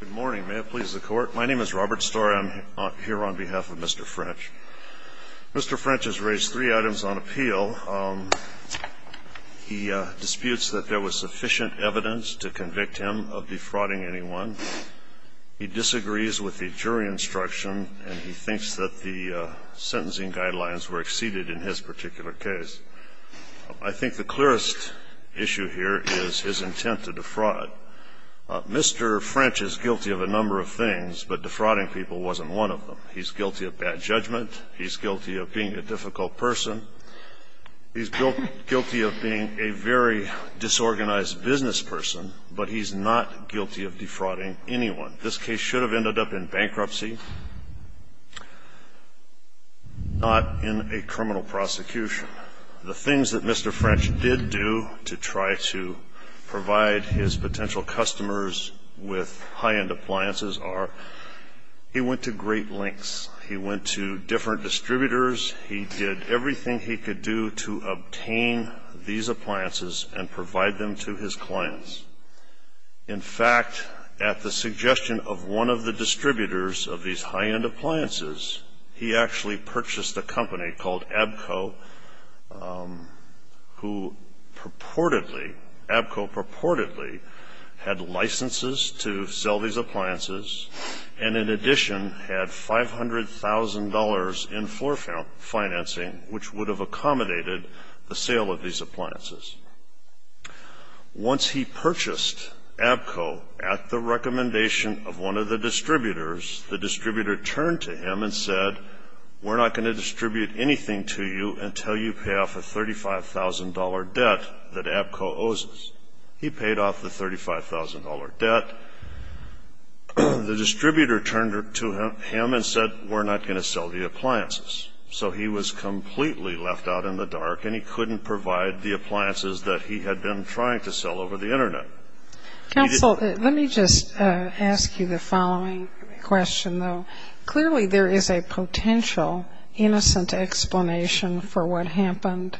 Good morning, may it please the court. My name is Robert Storey. I'm here on behalf of Mr. French. Mr. French has raised three items on appeal. He disputes that there was sufficient evidence to convict him of defrauding anyone. He disagrees with the jury instruction, and he thinks that the sentencing guidelines were exceeded in his particular case. I think the clearest issue here is his intent to defraud. Mr. French is guilty of a number of things, but defrauding people wasn't one of them. He's guilty of bad judgment. He's guilty of being a difficult person. He's guilty of being a very disorganized business person, but he's not guilty of defrauding anyone. This case should have ended up in bankruptcy, not in a criminal prosecution. The things that Mr. French did do to try to provide his potential customers with high-end appliances are he went to great lengths. He went to different distributors. He did everything he could do to obtain these appliances and provide them to his clients. In fact, at the suggestion of one of the distributors of these high-end appliances, he actually purchased a company called Abco, who purportedly, Abco purportedly had licenses to sell these appliances and, in addition, had $500,000 in floor financing, which would have accommodated the sale of these appliances. Once he purchased Abco at the recommendation of one of the distributors, the distributor turned to him and said, we're not going to distribute anything to you until you pay off a $35,000 debt that Abco owes us. He paid off the $35,000 debt. The distributor turned to him and said, we're not going to sell the appliances. So he was completely left out in the dark, and he couldn't provide the appliances that he had been trying to sell over the Internet. Counsel, let me just ask you the following question, though. Clearly, there is a potential innocent explanation for what happened,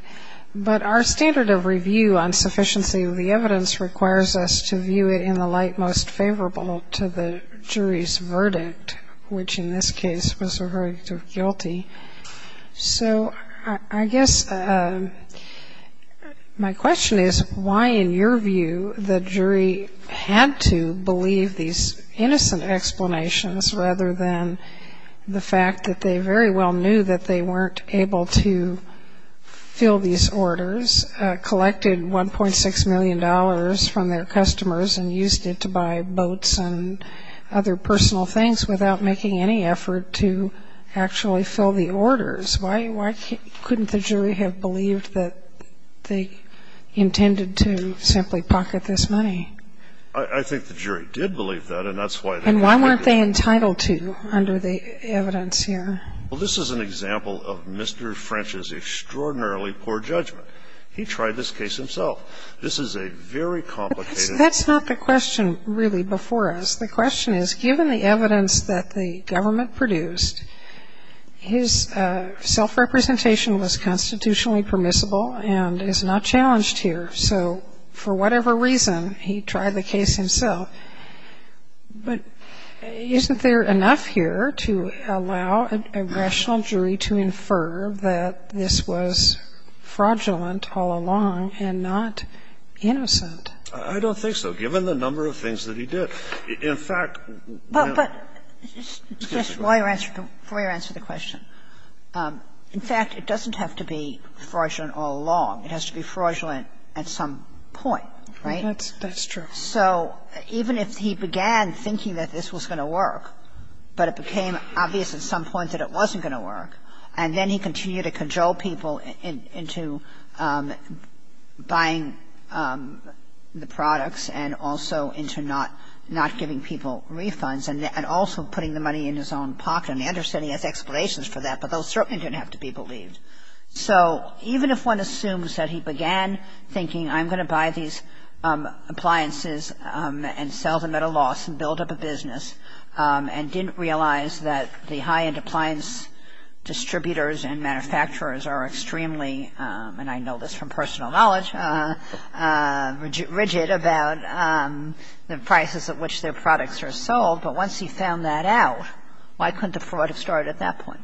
but our standard of review on sufficiency of the evidence requires us to view it in the light most favorable to the jury's verdict, which in this case was a verdict of guilty. So I guess my question is, why, in your view, the jury had to believe these innocent explanations rather than the fact that they very well knew that they weren't able to fill these orders, collected $1.6 million from their customers and used it to buy boats and other personal things without making any effort to actually fill the orders? Why couldn't the jury have believed that they intended to simply pocket this money? I think the jury did believe that, and that's why they concluded that. And why weren't they entitled to under the evidence here? Well, this is an example of Mr. French's extraordinarily poor judgment. He tried this case himself. This is a very complicated case. That's not the question really before us. The question is, given the evidence that the government produced, his self-representation was constitutionally permissible and is not challenged here. So for whatever reason, he tried the case himself. But isn't there enough here to allow an aggression jury to infer that this was fraudulent all along and not innocent? I don't think so, given the number of things that he did. In fact, you know. But just before you answer the question. In fact, it doesn't have to be fraudulent all along. It has to be fraudulent at some point, right? That's true. So even if he began thinking that this was going to work, but it became obvious at some point that it wasn't going to work, and then he continued to conjole people into buying the products and also into not giving people refunds and also putting the money in his own pocket. And I understand he has explanations for that, but those certainly didn't have to be believed. So even if one assumes that he began thinking I'm going to buy these appliances and sell them at a loss and build up a business and didn't realize that the high-end appliance distributors and manufacturers are extremely, and I know this from personal knowledge, rigid about the prices at which their products are sold, but once he found that out, why couldn't the fraud have started at that point?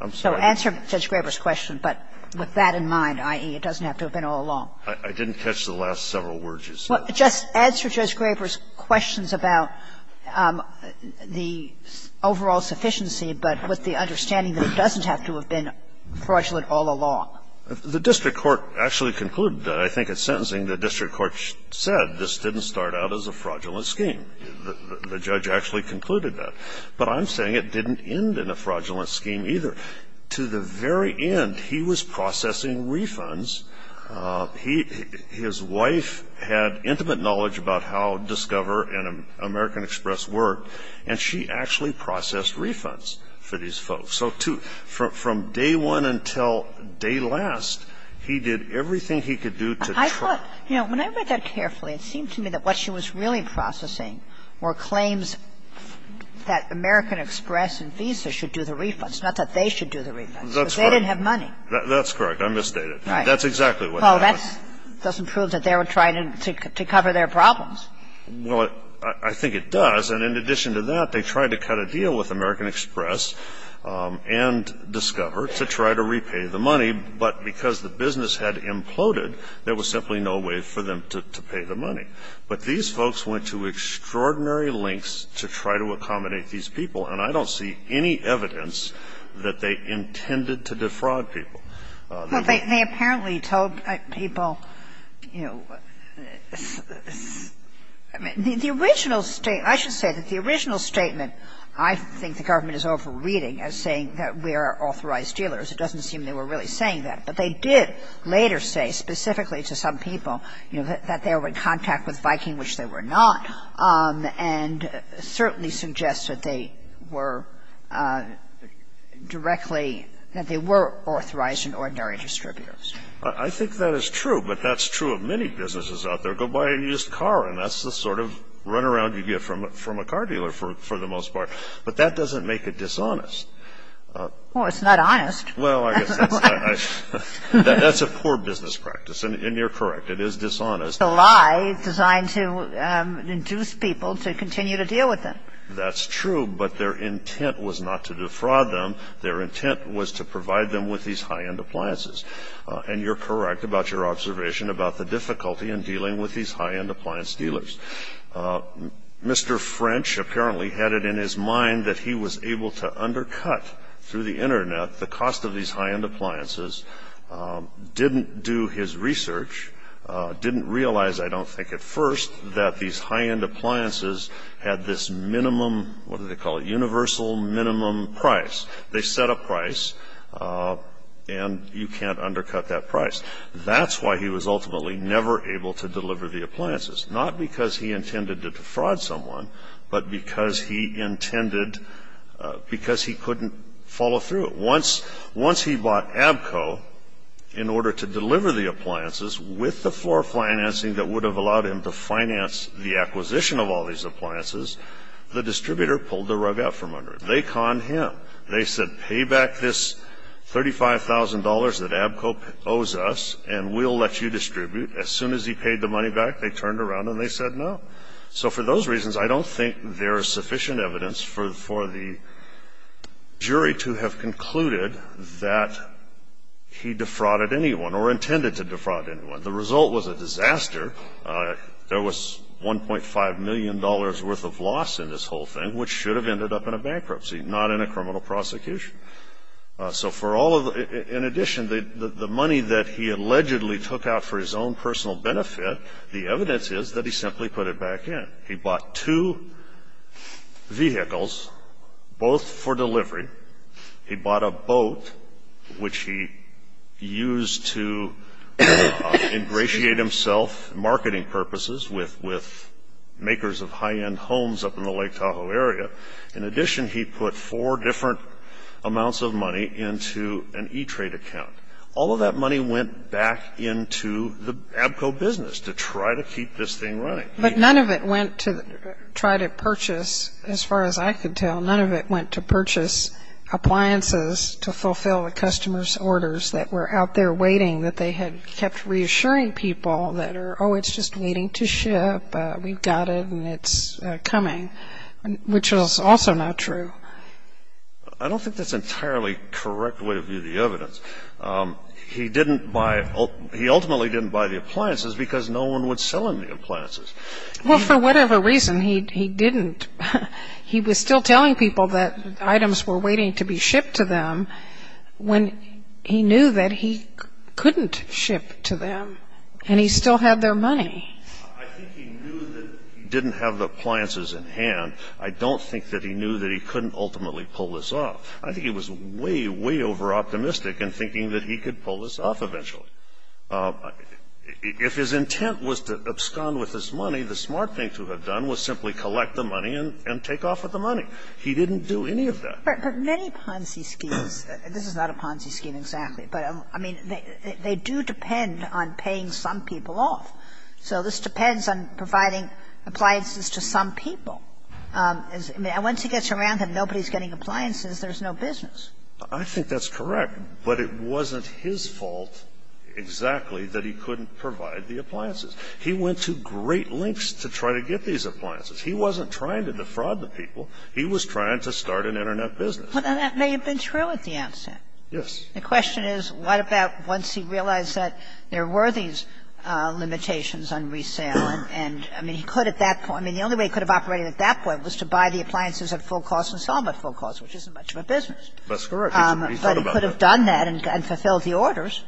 I'm sorry? So answer Judge Graber's question. But with that in mind, i.e., it doesn't have to have been all along. I didn't catch the last several words you said. Just answer Judge Graber's questions about the overall sufficiency, but with the understanding that it doesn't have to have been fraudulent all along. The district court actually concluded that. I think at sentencing the district court said this didn't start out as a fraudulent scheme. The judge actually concluded that. But I'm saying it didn't end in a fraudulent scheme either. To the very end, he was processing refunds. His wife had intimate knowledge about how Discover and American Express worked, and she actually processed refunds for these folks. So, too, from day one until day last, he did everything he could do to try. I thought, you know, when I read that carefully, it seemed to me that what she was really processing were claims that American Express and Visa should do the refunds, not that they should do the refunds. That's right. Because they didn't have money. That's correct. I misstated. Right. That's exactly what happened. Well, that doesn't prove that they were trying to cover their problems. Well, I think it does. And in addition to that, they tried to cut a deal with American Express and Discover to try to repay the money, but because the business had imploded, there was simply no way for them to pay the money. But these folks went to extraordinary lengths to try to accommodate these people, and I don't see any evidence that they intended to defraud people. Well, they apparently told people, you know, the original state, I should say the original statement, I think the government is over-reading as saying that we are authorized dealers. It doesn't seem they were really saying that. But they did later say specifically to some people, you know, that they were in contact with Viking, which they were not, and certainly suggests that they were directly that they were authorized and ordinary distributors. I think that is true, but that's true of many businesses out there. And that's the sort of runaround you get from a car dealer for the most part. But that doesn't make it dishonest. Well, it's not honest. Well, I guess that's a poor business practice, and you're correct. It is dishonest. It's a lie designed to induce people to continue to deal with them. That's true, but their intent was not to defraud them. Their intent was to provide them with these high-end appliances. And you're correct about your observation about the difficulty in dealing with these high-end appliance dealers. Mr. French apparently had it in his mind that he was able to undercut through the Internet the cost of these high-end appliances, didn't do his research, didn't realize, I don't think at first, that these high-end appliances had this minimum, what do they call it, universal minimum price. They set a price, and you can't undercut that price. That's why he was ultimately never able to deliver the appliances, not because he intended to defraud someone, but because he couldn't follow through. Once he bought Abco in order to deliver the appliances with the floor financing that would have allowed him to finance the acquisition of all these appliances, the distributor pulled the rug out from under him. They conned him. They said, pay back this $35,000 that Abco owes us, and we'll let you distribute. As soon as he paid the money back, they turned around and they said no. So for those reasons, I don't think there is sufficient evidence for the jury to have concluded that he defrauded anyone or intended to defraud anyone. The result was a disaster. There was $1.5 million worth of loss in this whole thing, which should have ended up in a bankruptcy, not in a criminal prosecution. In addition, the money that he allegedly took out for his own personal benefit, the evidence is that he simply put it back in. He bought two vehicles, both for delivery. He bought a boat, which he used to ingratiate himself, with makers of high-end homes up in the Lake Tahoe area. In addition, he put four different amounts of money into an E-Trade account. All of that money went back into the Abco business to try to keep this thing running. But none of it went to try to purchase, as far as I could tell, none of it went to purchase appliances to fulfill the customer's orders that were out there waiting, that they had kept reassuring people that, oh, it's just waiting to ship. We've got it, and it's coming, which was also not true. I don't think that's an entirely correct way to view the evidence. He ultimately didn't buy the appliances because no one would sell him the appliances. Well, for whatever reason, he didn't. He was still telling people that items were waiting to be shipped to them when he knew that he couldn't ship to them, and he still had their money. I think he knew that he didn't have the appliances in hand. I don't think that he knew that he couldn't ultimately pull this off. I think he was way, way overoptimistic in thinking that he could pull this off eventually. If his intent was to abscond with his money, the smart thing to have done was simply collect the money and take off with the money. He didn't do any of that. But many Ponzi schemes, this is not a Ponzi scheme exactly, but, I mean, they do depend on paying some people off. So this depends on providing appliances to some people. And once he gets around that nobody's getting appliances, there's no business. I think that's correct. But it wasn't his fault exactly that he couldn't provide the appliances. He went to great lengths to try to get these appliances. He wasn't trying to defraud the people. He was trying to start an Internet business. And that may have been true at the outset. Yes. The question is, what about once he realized that there were these limitations on resale and, I mean, he could at that point. I mean, the only way he could have operated at that point was to buy the appliances at full cost and sell them at full cost, which isn't much of a business. That's correct. He should have thought about that. But he could have done that and fulfilled the orders.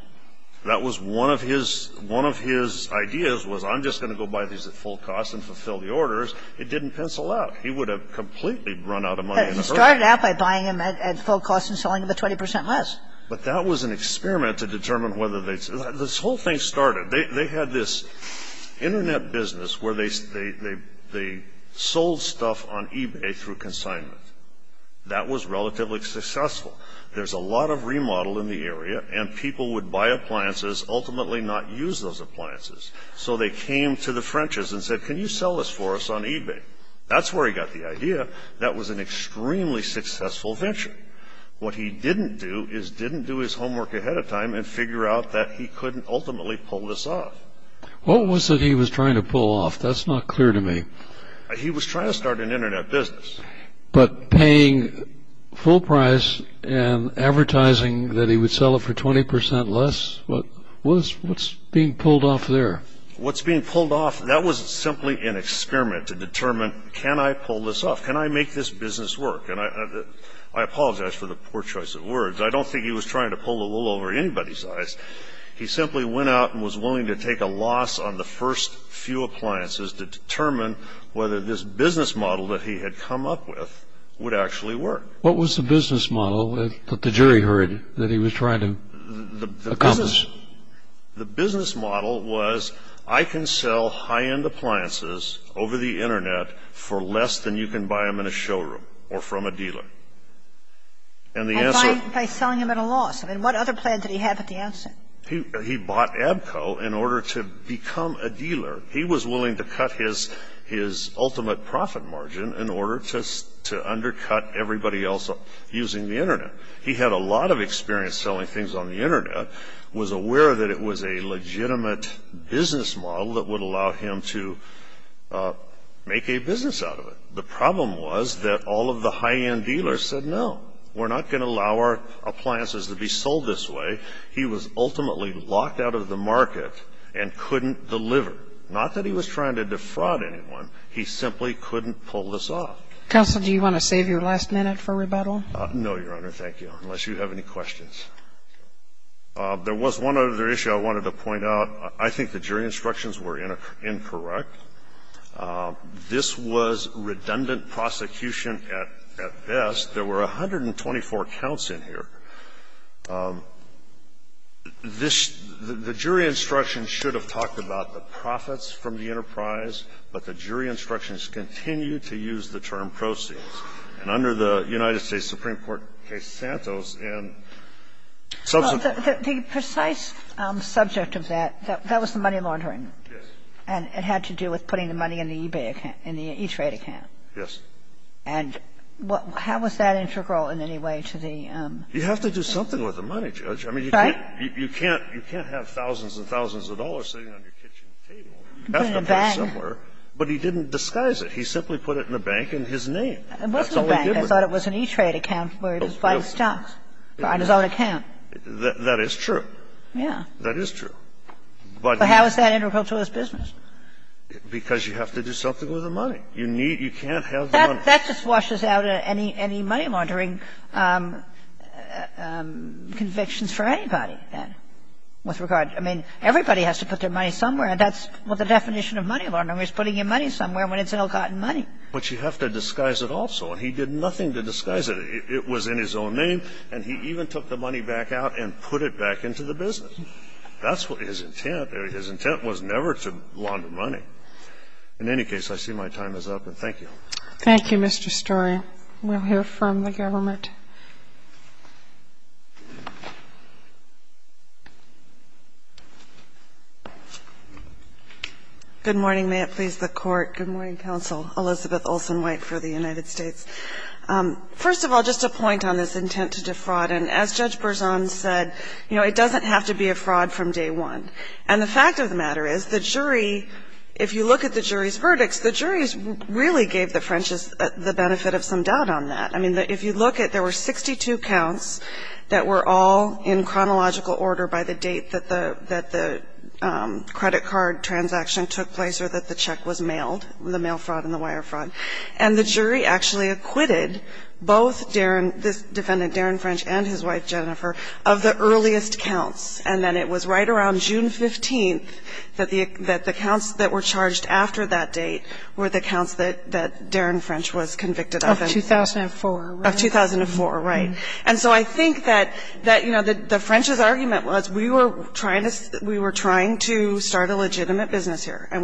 That was one of his ideas was I'm just going to go buy these at full cost and fulfill the orders. It didn't pencil out. He would have completely run out of money. He started out by buying them at full cost and selling them at 20 percent less. But that was an experiment to determine whether they – this whole thing started. They had this Internet business where they sold stuff on eBay through consignment. That was relatively successful. There's a lot of remodel in the area, and people would buy appliances, ultimately not use those appliances. So they came to the French's and said, can you sell this for us on eBay? That's where he got the idea that was an extremely successful venture. What he didn't do is didn't do his homework ahead of time and figure out that he couldn't ultimately pull this off. What was it he was trying to pull off? That's not clear to me. He was trying to start an Internet business. But paying full price and advertising that he would sell it for 20 percent less, what's being pulled off there? What's being pulled off, that was simply an experiment to determine, can I pull this off? Can I make this business work? And I apologize for the poor choice of words. I don't think he was trying to pull the wool over anybody's eyes. He simply went out and was willing to take a loss on the first few appliances to determine whether this business model that he had come up with would actually work. What was the business model that the jury heard that he was trying to accomplish? The business model was, I can sell high-end appliances over the Internet for less than you can buy them in a showroom or from a dealer. And the answer- By selling them at a loss. I mean, what other plan did he have at the outset? He bought Abco in order to become a dealer. He was willing to cut his ultimate profit margin in order to undercut everybody else using the Internet. He had a lot of experience selling things on the Internet, was aware that it was a legitimate business model that would allow him to make a business out of it. The problem was that all of the high-end dealers said, no, we're not going to allow our appliances to be sold this way. He was ultimately locked out of the market and couldn't deliver. Not that he was trying to defraud anyone. He simply couldn't pull this off. Counsel, do you want to save your last minute for rebuttal? No, Your Honor, thank you, unless you have any questions. There was one other issue I wanted to point out. I think the jury instructions were incorrect. This was redundant prosecution at best. There were 124 counts in here. This the jury instructions should have talked about the profits from the enterprise, but the jury instructions continue to use the term proceeds. And under the United States Supreme Court case Santos in subsequent years. The precise subject of that, that was the money laundering. Yes. And it had to do with putting the money in the eBay account, in the E-Trade account. Yes. And how was that integral in any way to the ---- You have to do something with the money, Judge. Right. I mean, you can't have thousands and thousands of dollars sitting on your kitchen table. You have to put it somewhere. Put it in a bank. But he didn't disguise it. He simply put it in a bank in his name. That's all he did with it. It wasn't a bank. I thought it was an E-Trade account where he was buying stocks. Buying his own account. That is true. Yes. That is true. But how is that integral to his business? Because you have to do something with the money. You can't have the money. That just washes out any money laundering convictions for anybody, then, with regard to ---- I mean, everybody has to put their money somewhere. That's what the definition of money laundering is, putting your money somewhere when it's ill-gotten money. But you have to disguise it also. And he did nothing to disguise it. It was in his own name. And he even took the money back out and put it back into the business. That's what his intent. His intent was never to launder money. In any case, I see my time is up, and thank you. Thank you, Mr. Story. We'll hear from the government. Good morning. May it please the Court. Good morning, Counsel Elizabeth Olsen-White for the United States. First of all, just a point on this intent to defraud. And as Judge Berzon said, you know, it doesn't have to be a fraud from day one. And the fact of the matter is, the jury, if you look at the jury's verdicts, the jury really gave the French the benefit of some doubt on that. I mean, if you look at there were 62 counts that were all in chronological order by the date that the credit card transaction took place or that the check was in the mail fraud and the wire fraud. And the jury actually acquitted both this defendant, Darren French, and his wife, Jennifer, of the earliest counts. And then it was right around June 15th that the counts that were charged after that date were the counts that Darren French was convicted of. Of 2004, right? Of 2004, right. And so I think that, you know, the French's argument was we were trying to start a business, and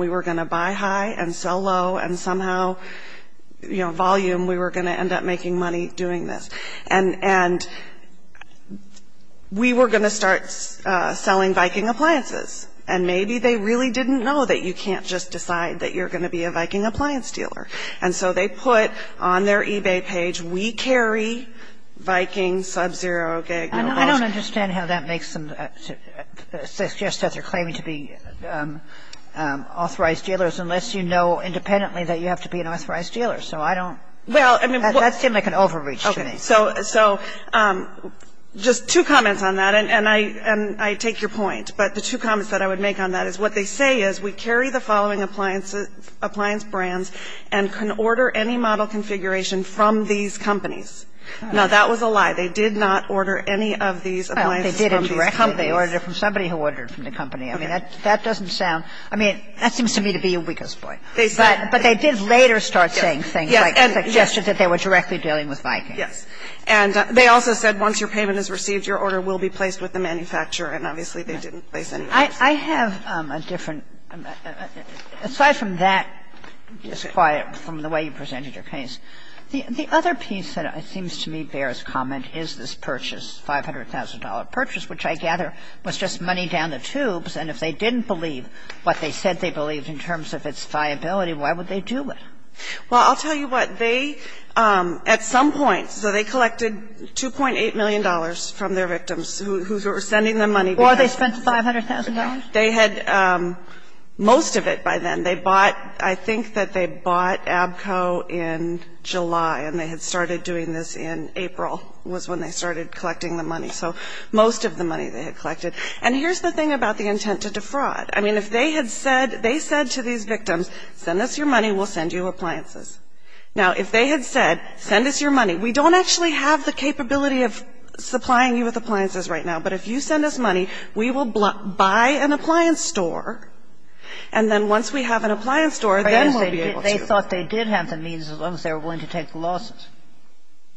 we were going to start selling Viking appliances. And maybe they really didn't know that you can't just decide that you're going to be a Viking appliance dealer. And so they put on their eBay page, we carry Viking Sub-Zero Gig. Kagan. Kagan. I don't understand how that makes them suggest that they're claiming to be authorized dealers unless you know independently that you have to be an authorized dealer. So I don't – that seems like an overreach to me. Okay. So just two comments on that, and I take your point. But the two comments that I would make on that is what they say is, we carry the following appliance brands and can order any model configuration from these companies. Now, that was a lie. They did not order any of these appliances from these companies. Well, they did indirectly. They ordered it from somebody who ordered it from the company. I mean, that doesn't sound – I mean, that seems to me to be a weakest point. But they did later start saying things like suggested that they were directly dealing with Vikings. Yes. And they also said once your payment is received, your order will be placed with the manufacturer. And obviously, they didn't place any orders. I have a different – aside from that disquiet from the way you presented your case, the other piece that seems to me bears comment is this purchase, $500,000 purchase, which I gather was just money down the tubes. And if they didn't believe what they said they believed in terms of its viability, why would they do it? Well, I'll tell you what. They, at some point – so they collected $2.8 million from their victims who were sending them money. Or they spent $500,000? They had most of it by then. They bought – I think that they bought ABCO in July, and they had started doing this in April was when they started collecting the money. So most of the money they had collected. And here's the thing about the intent to defraud. I mean, if they had said – they said to these victims, send us your money, we'll send you appliances. Now, if they had said, send us your money, we don't actually have the capability of supplying you with appliances right now, but if you send us money, we will buy an appliance store. And then once we have an appliance store, then we'll be able to. They thought they did have the means as long as they were willing to take the losses.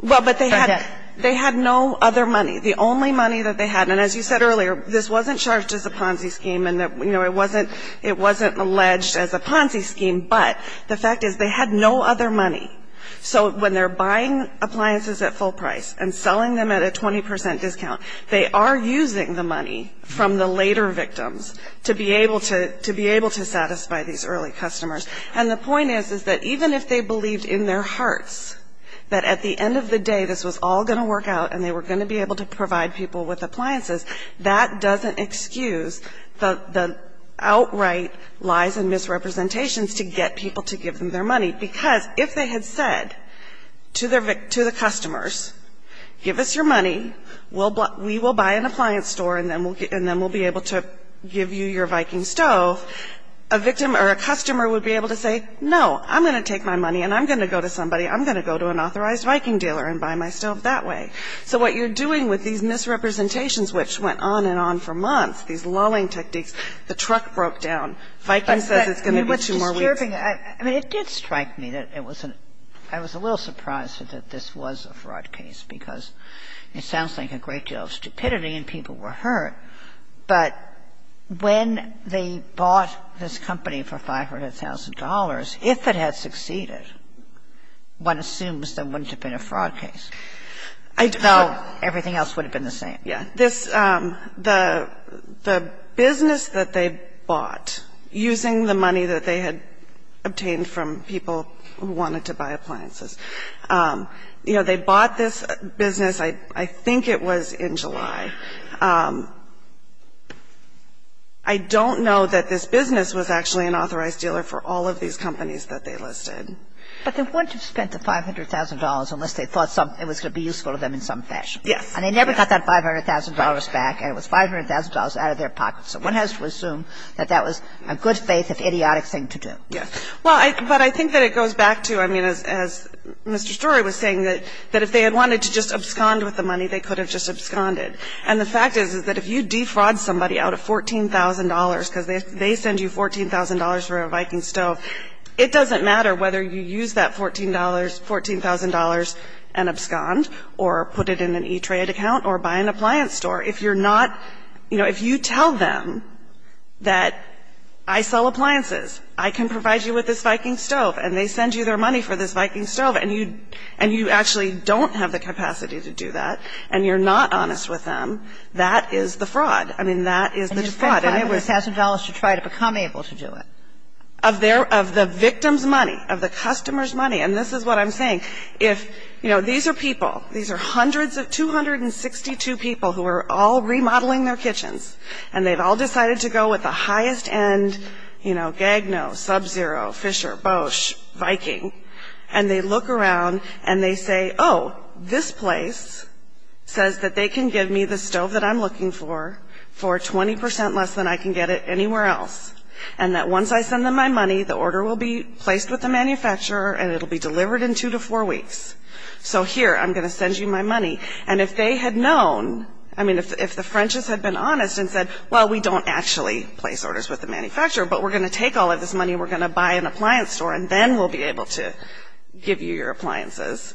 Well, but they had no other money. The only money that they had – and as you said earlier, this wasn't charged as a Ponzi scheme, and it wasn't alleged as a Ponzi scheme, but the fact is they had no other money. So when they're buying appliances at full price and selling them at a 20 percent discount, they are using the money from the later victims to be able to satisfy these early customers. And the point is, is that even if they believed in their hearts that at the end of the day this was all going to work out and they were going to be able to provide people with appliances, that doesn't excuse the outright lies and misrepresentations to get people to give them their money. Because if they had said to the customers, give us your money, we will buy an appliance store, and then we'll be able to give you your Viking stove, a victim or a customer would be able to say, no, I'm going to take my money and I'm going to go to somebody. I'm going to go to an authorized Viking dealer and buy my stove that way. So what you're doing with these misrepresentations, which went on and on for months, these lulling techniques, the truck broke down. Viking says it's going to be with you more weeks. Kagan. I mean, it did strike me that it was an – I was a little surprised that this was a fraud case, because it sounds like a great deal of stupidity and people were hurt. But when they bought this company for $500,000, if it had succeeded, one assumes there wouldn't have been a fraud case. I don't know. Everything else would have been the same. Yeah. This – the business that they bought, using the money that they had obtained from people who wanted to buy appliances, you know, they bought this business, I think it was in July. I don't know that this business was actually an authorized dealer for all of these companies that they listed. But they wouldn't have spent the $500,000 unless they thought it was going to be useful to them in some fashion. Yes. And they never got that $500,000 back, and it was $500,000 out of their pocket. So one has to assume that that was a good faith, if idiotic, thing to do. Yes. Well, but I think that it goes back to, I mean, as Mr. Story was saying, that if they had wanted to just abscond with the money, they could have just absconded. And the fact is, is that if you defraud somebody out of $14,000 because they send you $14,000 for a Viking stove, it doesn't matter whether you use that $14,000 and abscond or put it in an E-Trade account or buy an appliance store. If you're not – you know, if you tell them that I sell appliances, I can provide you with this Viking stove, and they send you their money for this Viking stove, and you – and you actually don't have the capacity to do that, and you're not honest with them, that is the fraud. I mean, that is the fraud. And you spend $500,000 to try to become able to do it. Of their – of the victim's money, of the customer's money. And this is what I'm saying. If – you know, these are people. These are hundreds of – 262 people who are all remodeling their kitchens, and they've all decided to go with the highest-end, you know, Gagno, Sub-Zero, Fisher, Bosch, Viking. And they look around, and they say, oh, this place says that they can give me the stove that I'm looking for for 20% less than I can get it anywhere else. And that once I send them my money, the order will be placed with the manufacturer, and it will be delivered in two to four weeks. So here, I'm going to send you my money. And if they had known – I mean, if the French has had been honest and said, well, we don't actually place orders with the manufacturer, but we're going to take all of this money, and we're going to buy an appliance store, and then we'll be able to give you your appliances,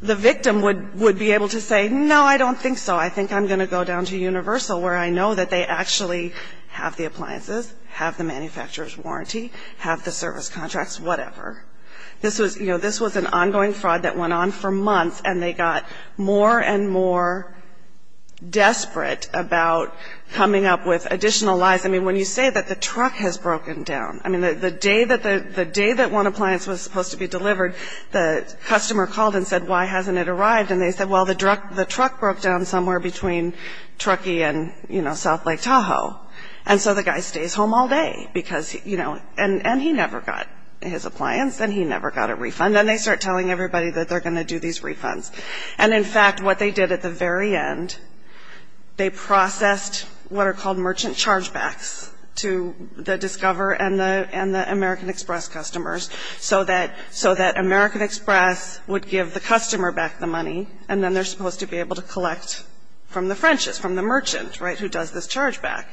the victim would be able to say, no, I don't think so. I think I'm going to go down to Universal, where I know that they actually have the appliances, have the manufacturer's warranty, have the service contracts, whatever. This was – you know, this was an ongoing fraud that went on for months, and they got more and more desperate about coming up with additional lies. I mean, when you say that the truck has broken down – I mean, the day that one appliance was supposed to be delivered, the customer called and said, why hasn't it arrived? And they said, well, the truck broke down somewhere between Truckee and, you know, South Lake Tahoe. And so the guy stays home all day because, you know – and he never got his appliance, and he never got a refund. And they start telling everybody that they're going to do these refunds. And in fact, what they did at the very end, they processed what are called merchant chargebacks to the Discover and the American Express customers, so that American Express would give the customer back the money, and then they're supposed to be able to collect from the French's, from the merchant, right, who does this chargeback.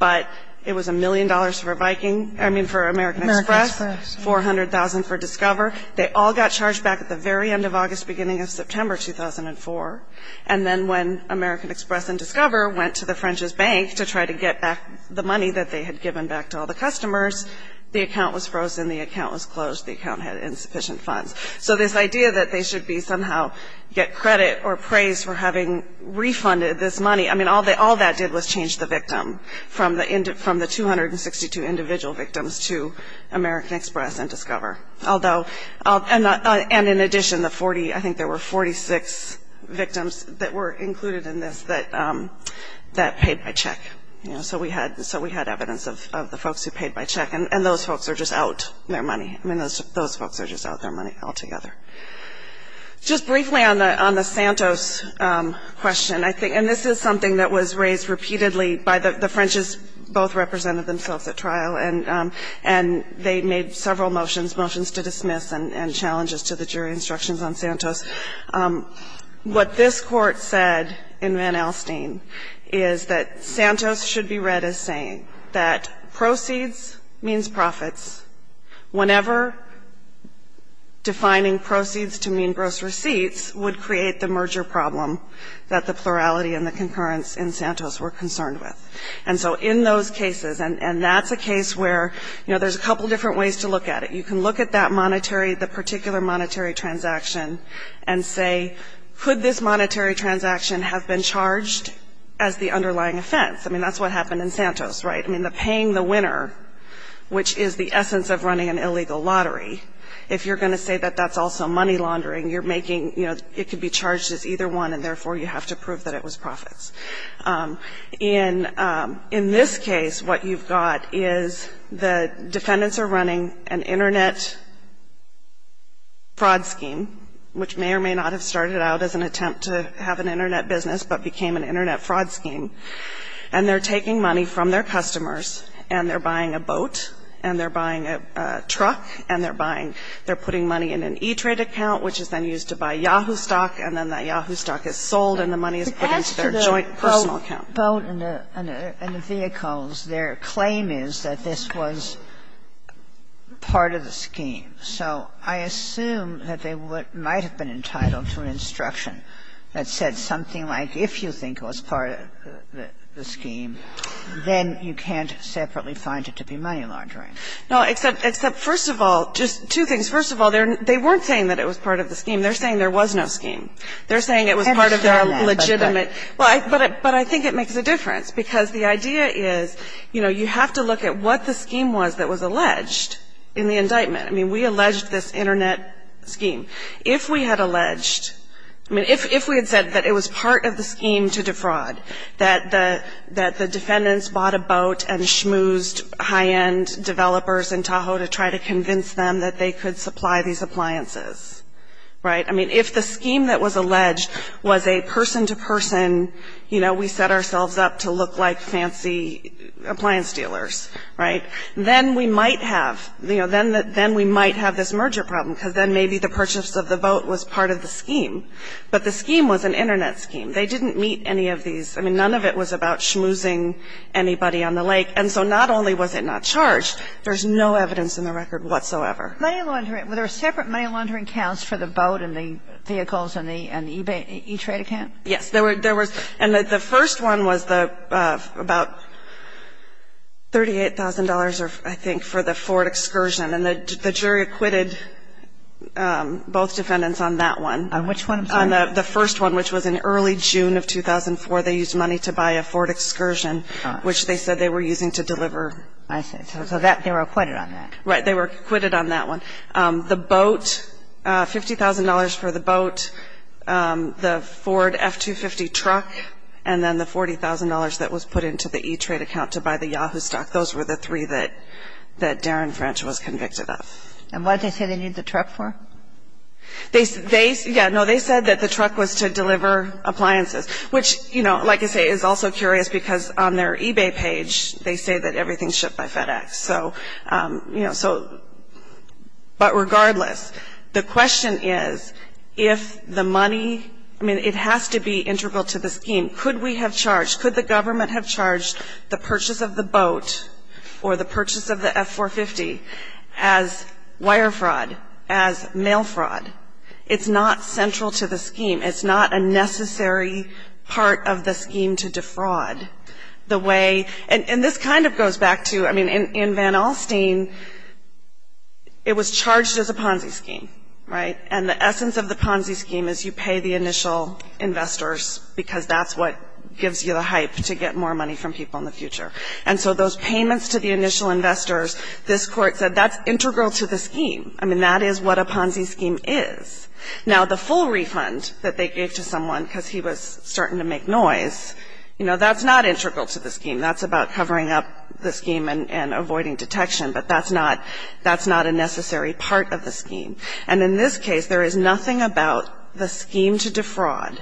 But it was $1 million for Viking – I mean, for American Express. American Express. $400,000 for Discover. They all got charged back at the very end of August, beginning of September 2004. And then when American Express and Discover went to the French's bank to try to get back the money that they had given back to all the customers, the account was frozen, the account was closed, the account had insufficient funds. So this idea that they should be somehow get credit or praise for having refunded this money – I mean, all that did was change the victim from the 262 individual victims to American Express and Discover. Although – and in addition, the 40 – I think there were 46 victims that were included in this that paid by check. You know, so we had evidence of the folks who paid by check. And those folks are just out their money. I mean, those folks are just out their money altogether. Just briefly on the Santos question, I think – and this is something that was raised repeatedly by the French's. Both represented themselves at trial, and they made several motions, motions to dismiss, and challenges to the jury instructions on Santos. What this Court said in Van Alstyne is that Santos should be read as saying that proceeds means profits. Whenever defining proceeds to mean gross receipts would create the merger problem that the plurality and the concurrence in Santos were concerned with. And so in those cases – and that's a case where, you know, there's a couple different ways to look at it. You can look at that monetary – the particular monetary transaction and say, could this monetary transaction have been charged as the underlying offense? I mean, that's what happened in Santos, right? I mean, the paying the winner, which is the essence of running an illegal lottery, if you're going to say that that's also money laundering, you're making – you know, it could be charged as either one, and therefore you have to prove that it was profits. In this case, what you've got is the defendants are running an Internet fraud scheme, which may or may not have started out as an attempt to have an Internet business, but became an Internet fraud scheme. And they're taking money from their customers, and they're buying a boat, and they're buying a truck, and they're buying – they're putting money in an E-Trade account, which is then used to buy Yahoo stock, and then that Yahoo stock is sold and the money is put into their joint personal account. But as to the boat and the vehicles, their claim is that this was part of the scheme. So I assume that they might have been entitled to an instruction that said something like if you think it was part of the scheme, then you can't separately find it to be money laundering. No, except first of all, just two things. First of all, they weren't saying that it was part of the scheme. They're saying there was no scheme. They're saying it was part of the legitimate. But I think it makes a difference, because the idea is, you know, you have to look at what the scheme was that was alleged in the indictment. I mean, we alleged this Internet scheme. If we had alleged – I mean, if we had said that it was part of the scheme to defraud, that the defendants bought a boat and schmoozed high-end developers in Tahoe to try to convince them that they could supply these appliances, right? I mean, if the scheme that was alleged was a person-to-person, you know, we set ourselves up to look like fancy appliance dealers, right? Then we might have – you know, then we might have this merger problem, because then maybe the purchase of the boat was part of the scheme. But the scheme was an Internet scheme. They didn't meet any of these – I mean, none of it was about schmoozing anybody on the lake. And so not only was it not charged, there's no evidence in the record whatsoever. Money laundering – were there separate money laundering counts for the boat and the vehicles and the e-trade account? Yes. There was – and the first one was the – about $38,000, I think, for the Ford Excursion. And the jury acquitted both defendants on that one. On which one, I'm sorry? On the first one, which was in early June of 2004. They used money to buy a Ford Excursion, which they said they were using to deliver. I see. So that – they were acquitted on that. Right. They were acquitted on that one. The boat – $50,000 for the boat, the Ford F-250 truck, and then the $40,000 that was put into the e-trade account to buy the Yahoo stock. Those were the three that Darren French was convicted of. And what did they say they needed the truck for? They – yeah, no, they said that the truck was to deliver appliances, which, you know, like I say, is also curious because on their eBay page, they say that everything's shipped by FedEx. So, you know, so – but regardless, the question is, if the money – I mean, it has to be integral to the scheme. Could we have charged – could the government have charged the purchase of the boat or the purchase of the F-450 as wire fraud, as mail fraud? It's not central to the scheme. It's not a necessary part of the scheme to defraud the way – and this kind of goes back to – I mean, in Van Alstyne, it was charged as a Ponzi scheme, right? And the essence of the Ponzi scheme is you pay the initial investors because that's what gives you the hype to get more money from people in the future. And so those payments to the initial investors, this Court said that's integral to the scheme. I mean, that is what a Ponzi scheme is. Now, the full refund that they gave to someone because he was starting to make noise, you know, that's not integral to the scheme. That's about covering up the scheme and avoiding detection, but that's not – that's not a necessary part of the scheme. And in this case, there is nothing about the scheme to defraud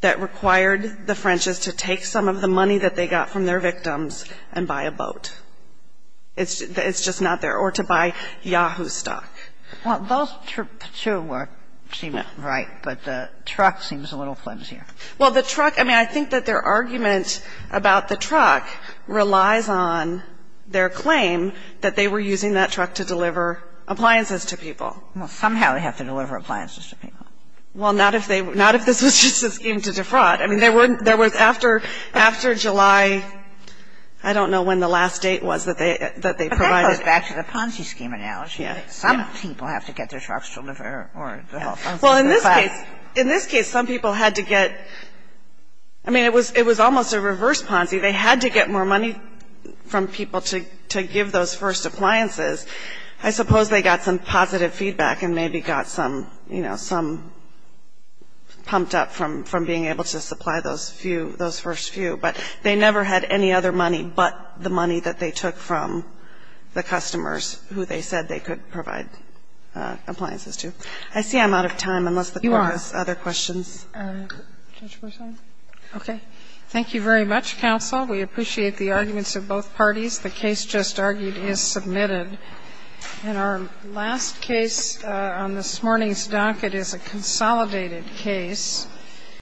that required the French's to take some of the money that they got from their victims and buy a boat. It's just not there. Or to buy Yahoo stock. Well, those two seem right, but the truck seems a little flimsier. Well, the truck – I mean, I think that their argument about the truck relies on their claim that they were using that truck to deliver appliances to people. Well, somehow they have to deliver appliances to people. Well, not if they – not if this was just a scheme to defraud. I mean, there was after July – I don't know when the last date was that they provided. That goes back to the Ponzi scheme analogy. Yeah. Some people have to get their trucks delivered or the whole thing. Well, in this case, in this case, some people had to get – I mean, it was almost a reverse Ponzi. They had to get more money from people to give those first appliances. I suppose they got some positive feedback and maybe got some, you know, some pumped up from being able to supply those few – those first few. But they never had any other money but the money that they took from the customers who they said they could provide appliances to. I see I'm out of time unless the Court has other questions. You are. Judge Burson. Okay. Thank you very much, counsel. We appreciate the arguments of both parties. The case just argued is submitted. And our last case on this morning's docket is a consolidated case.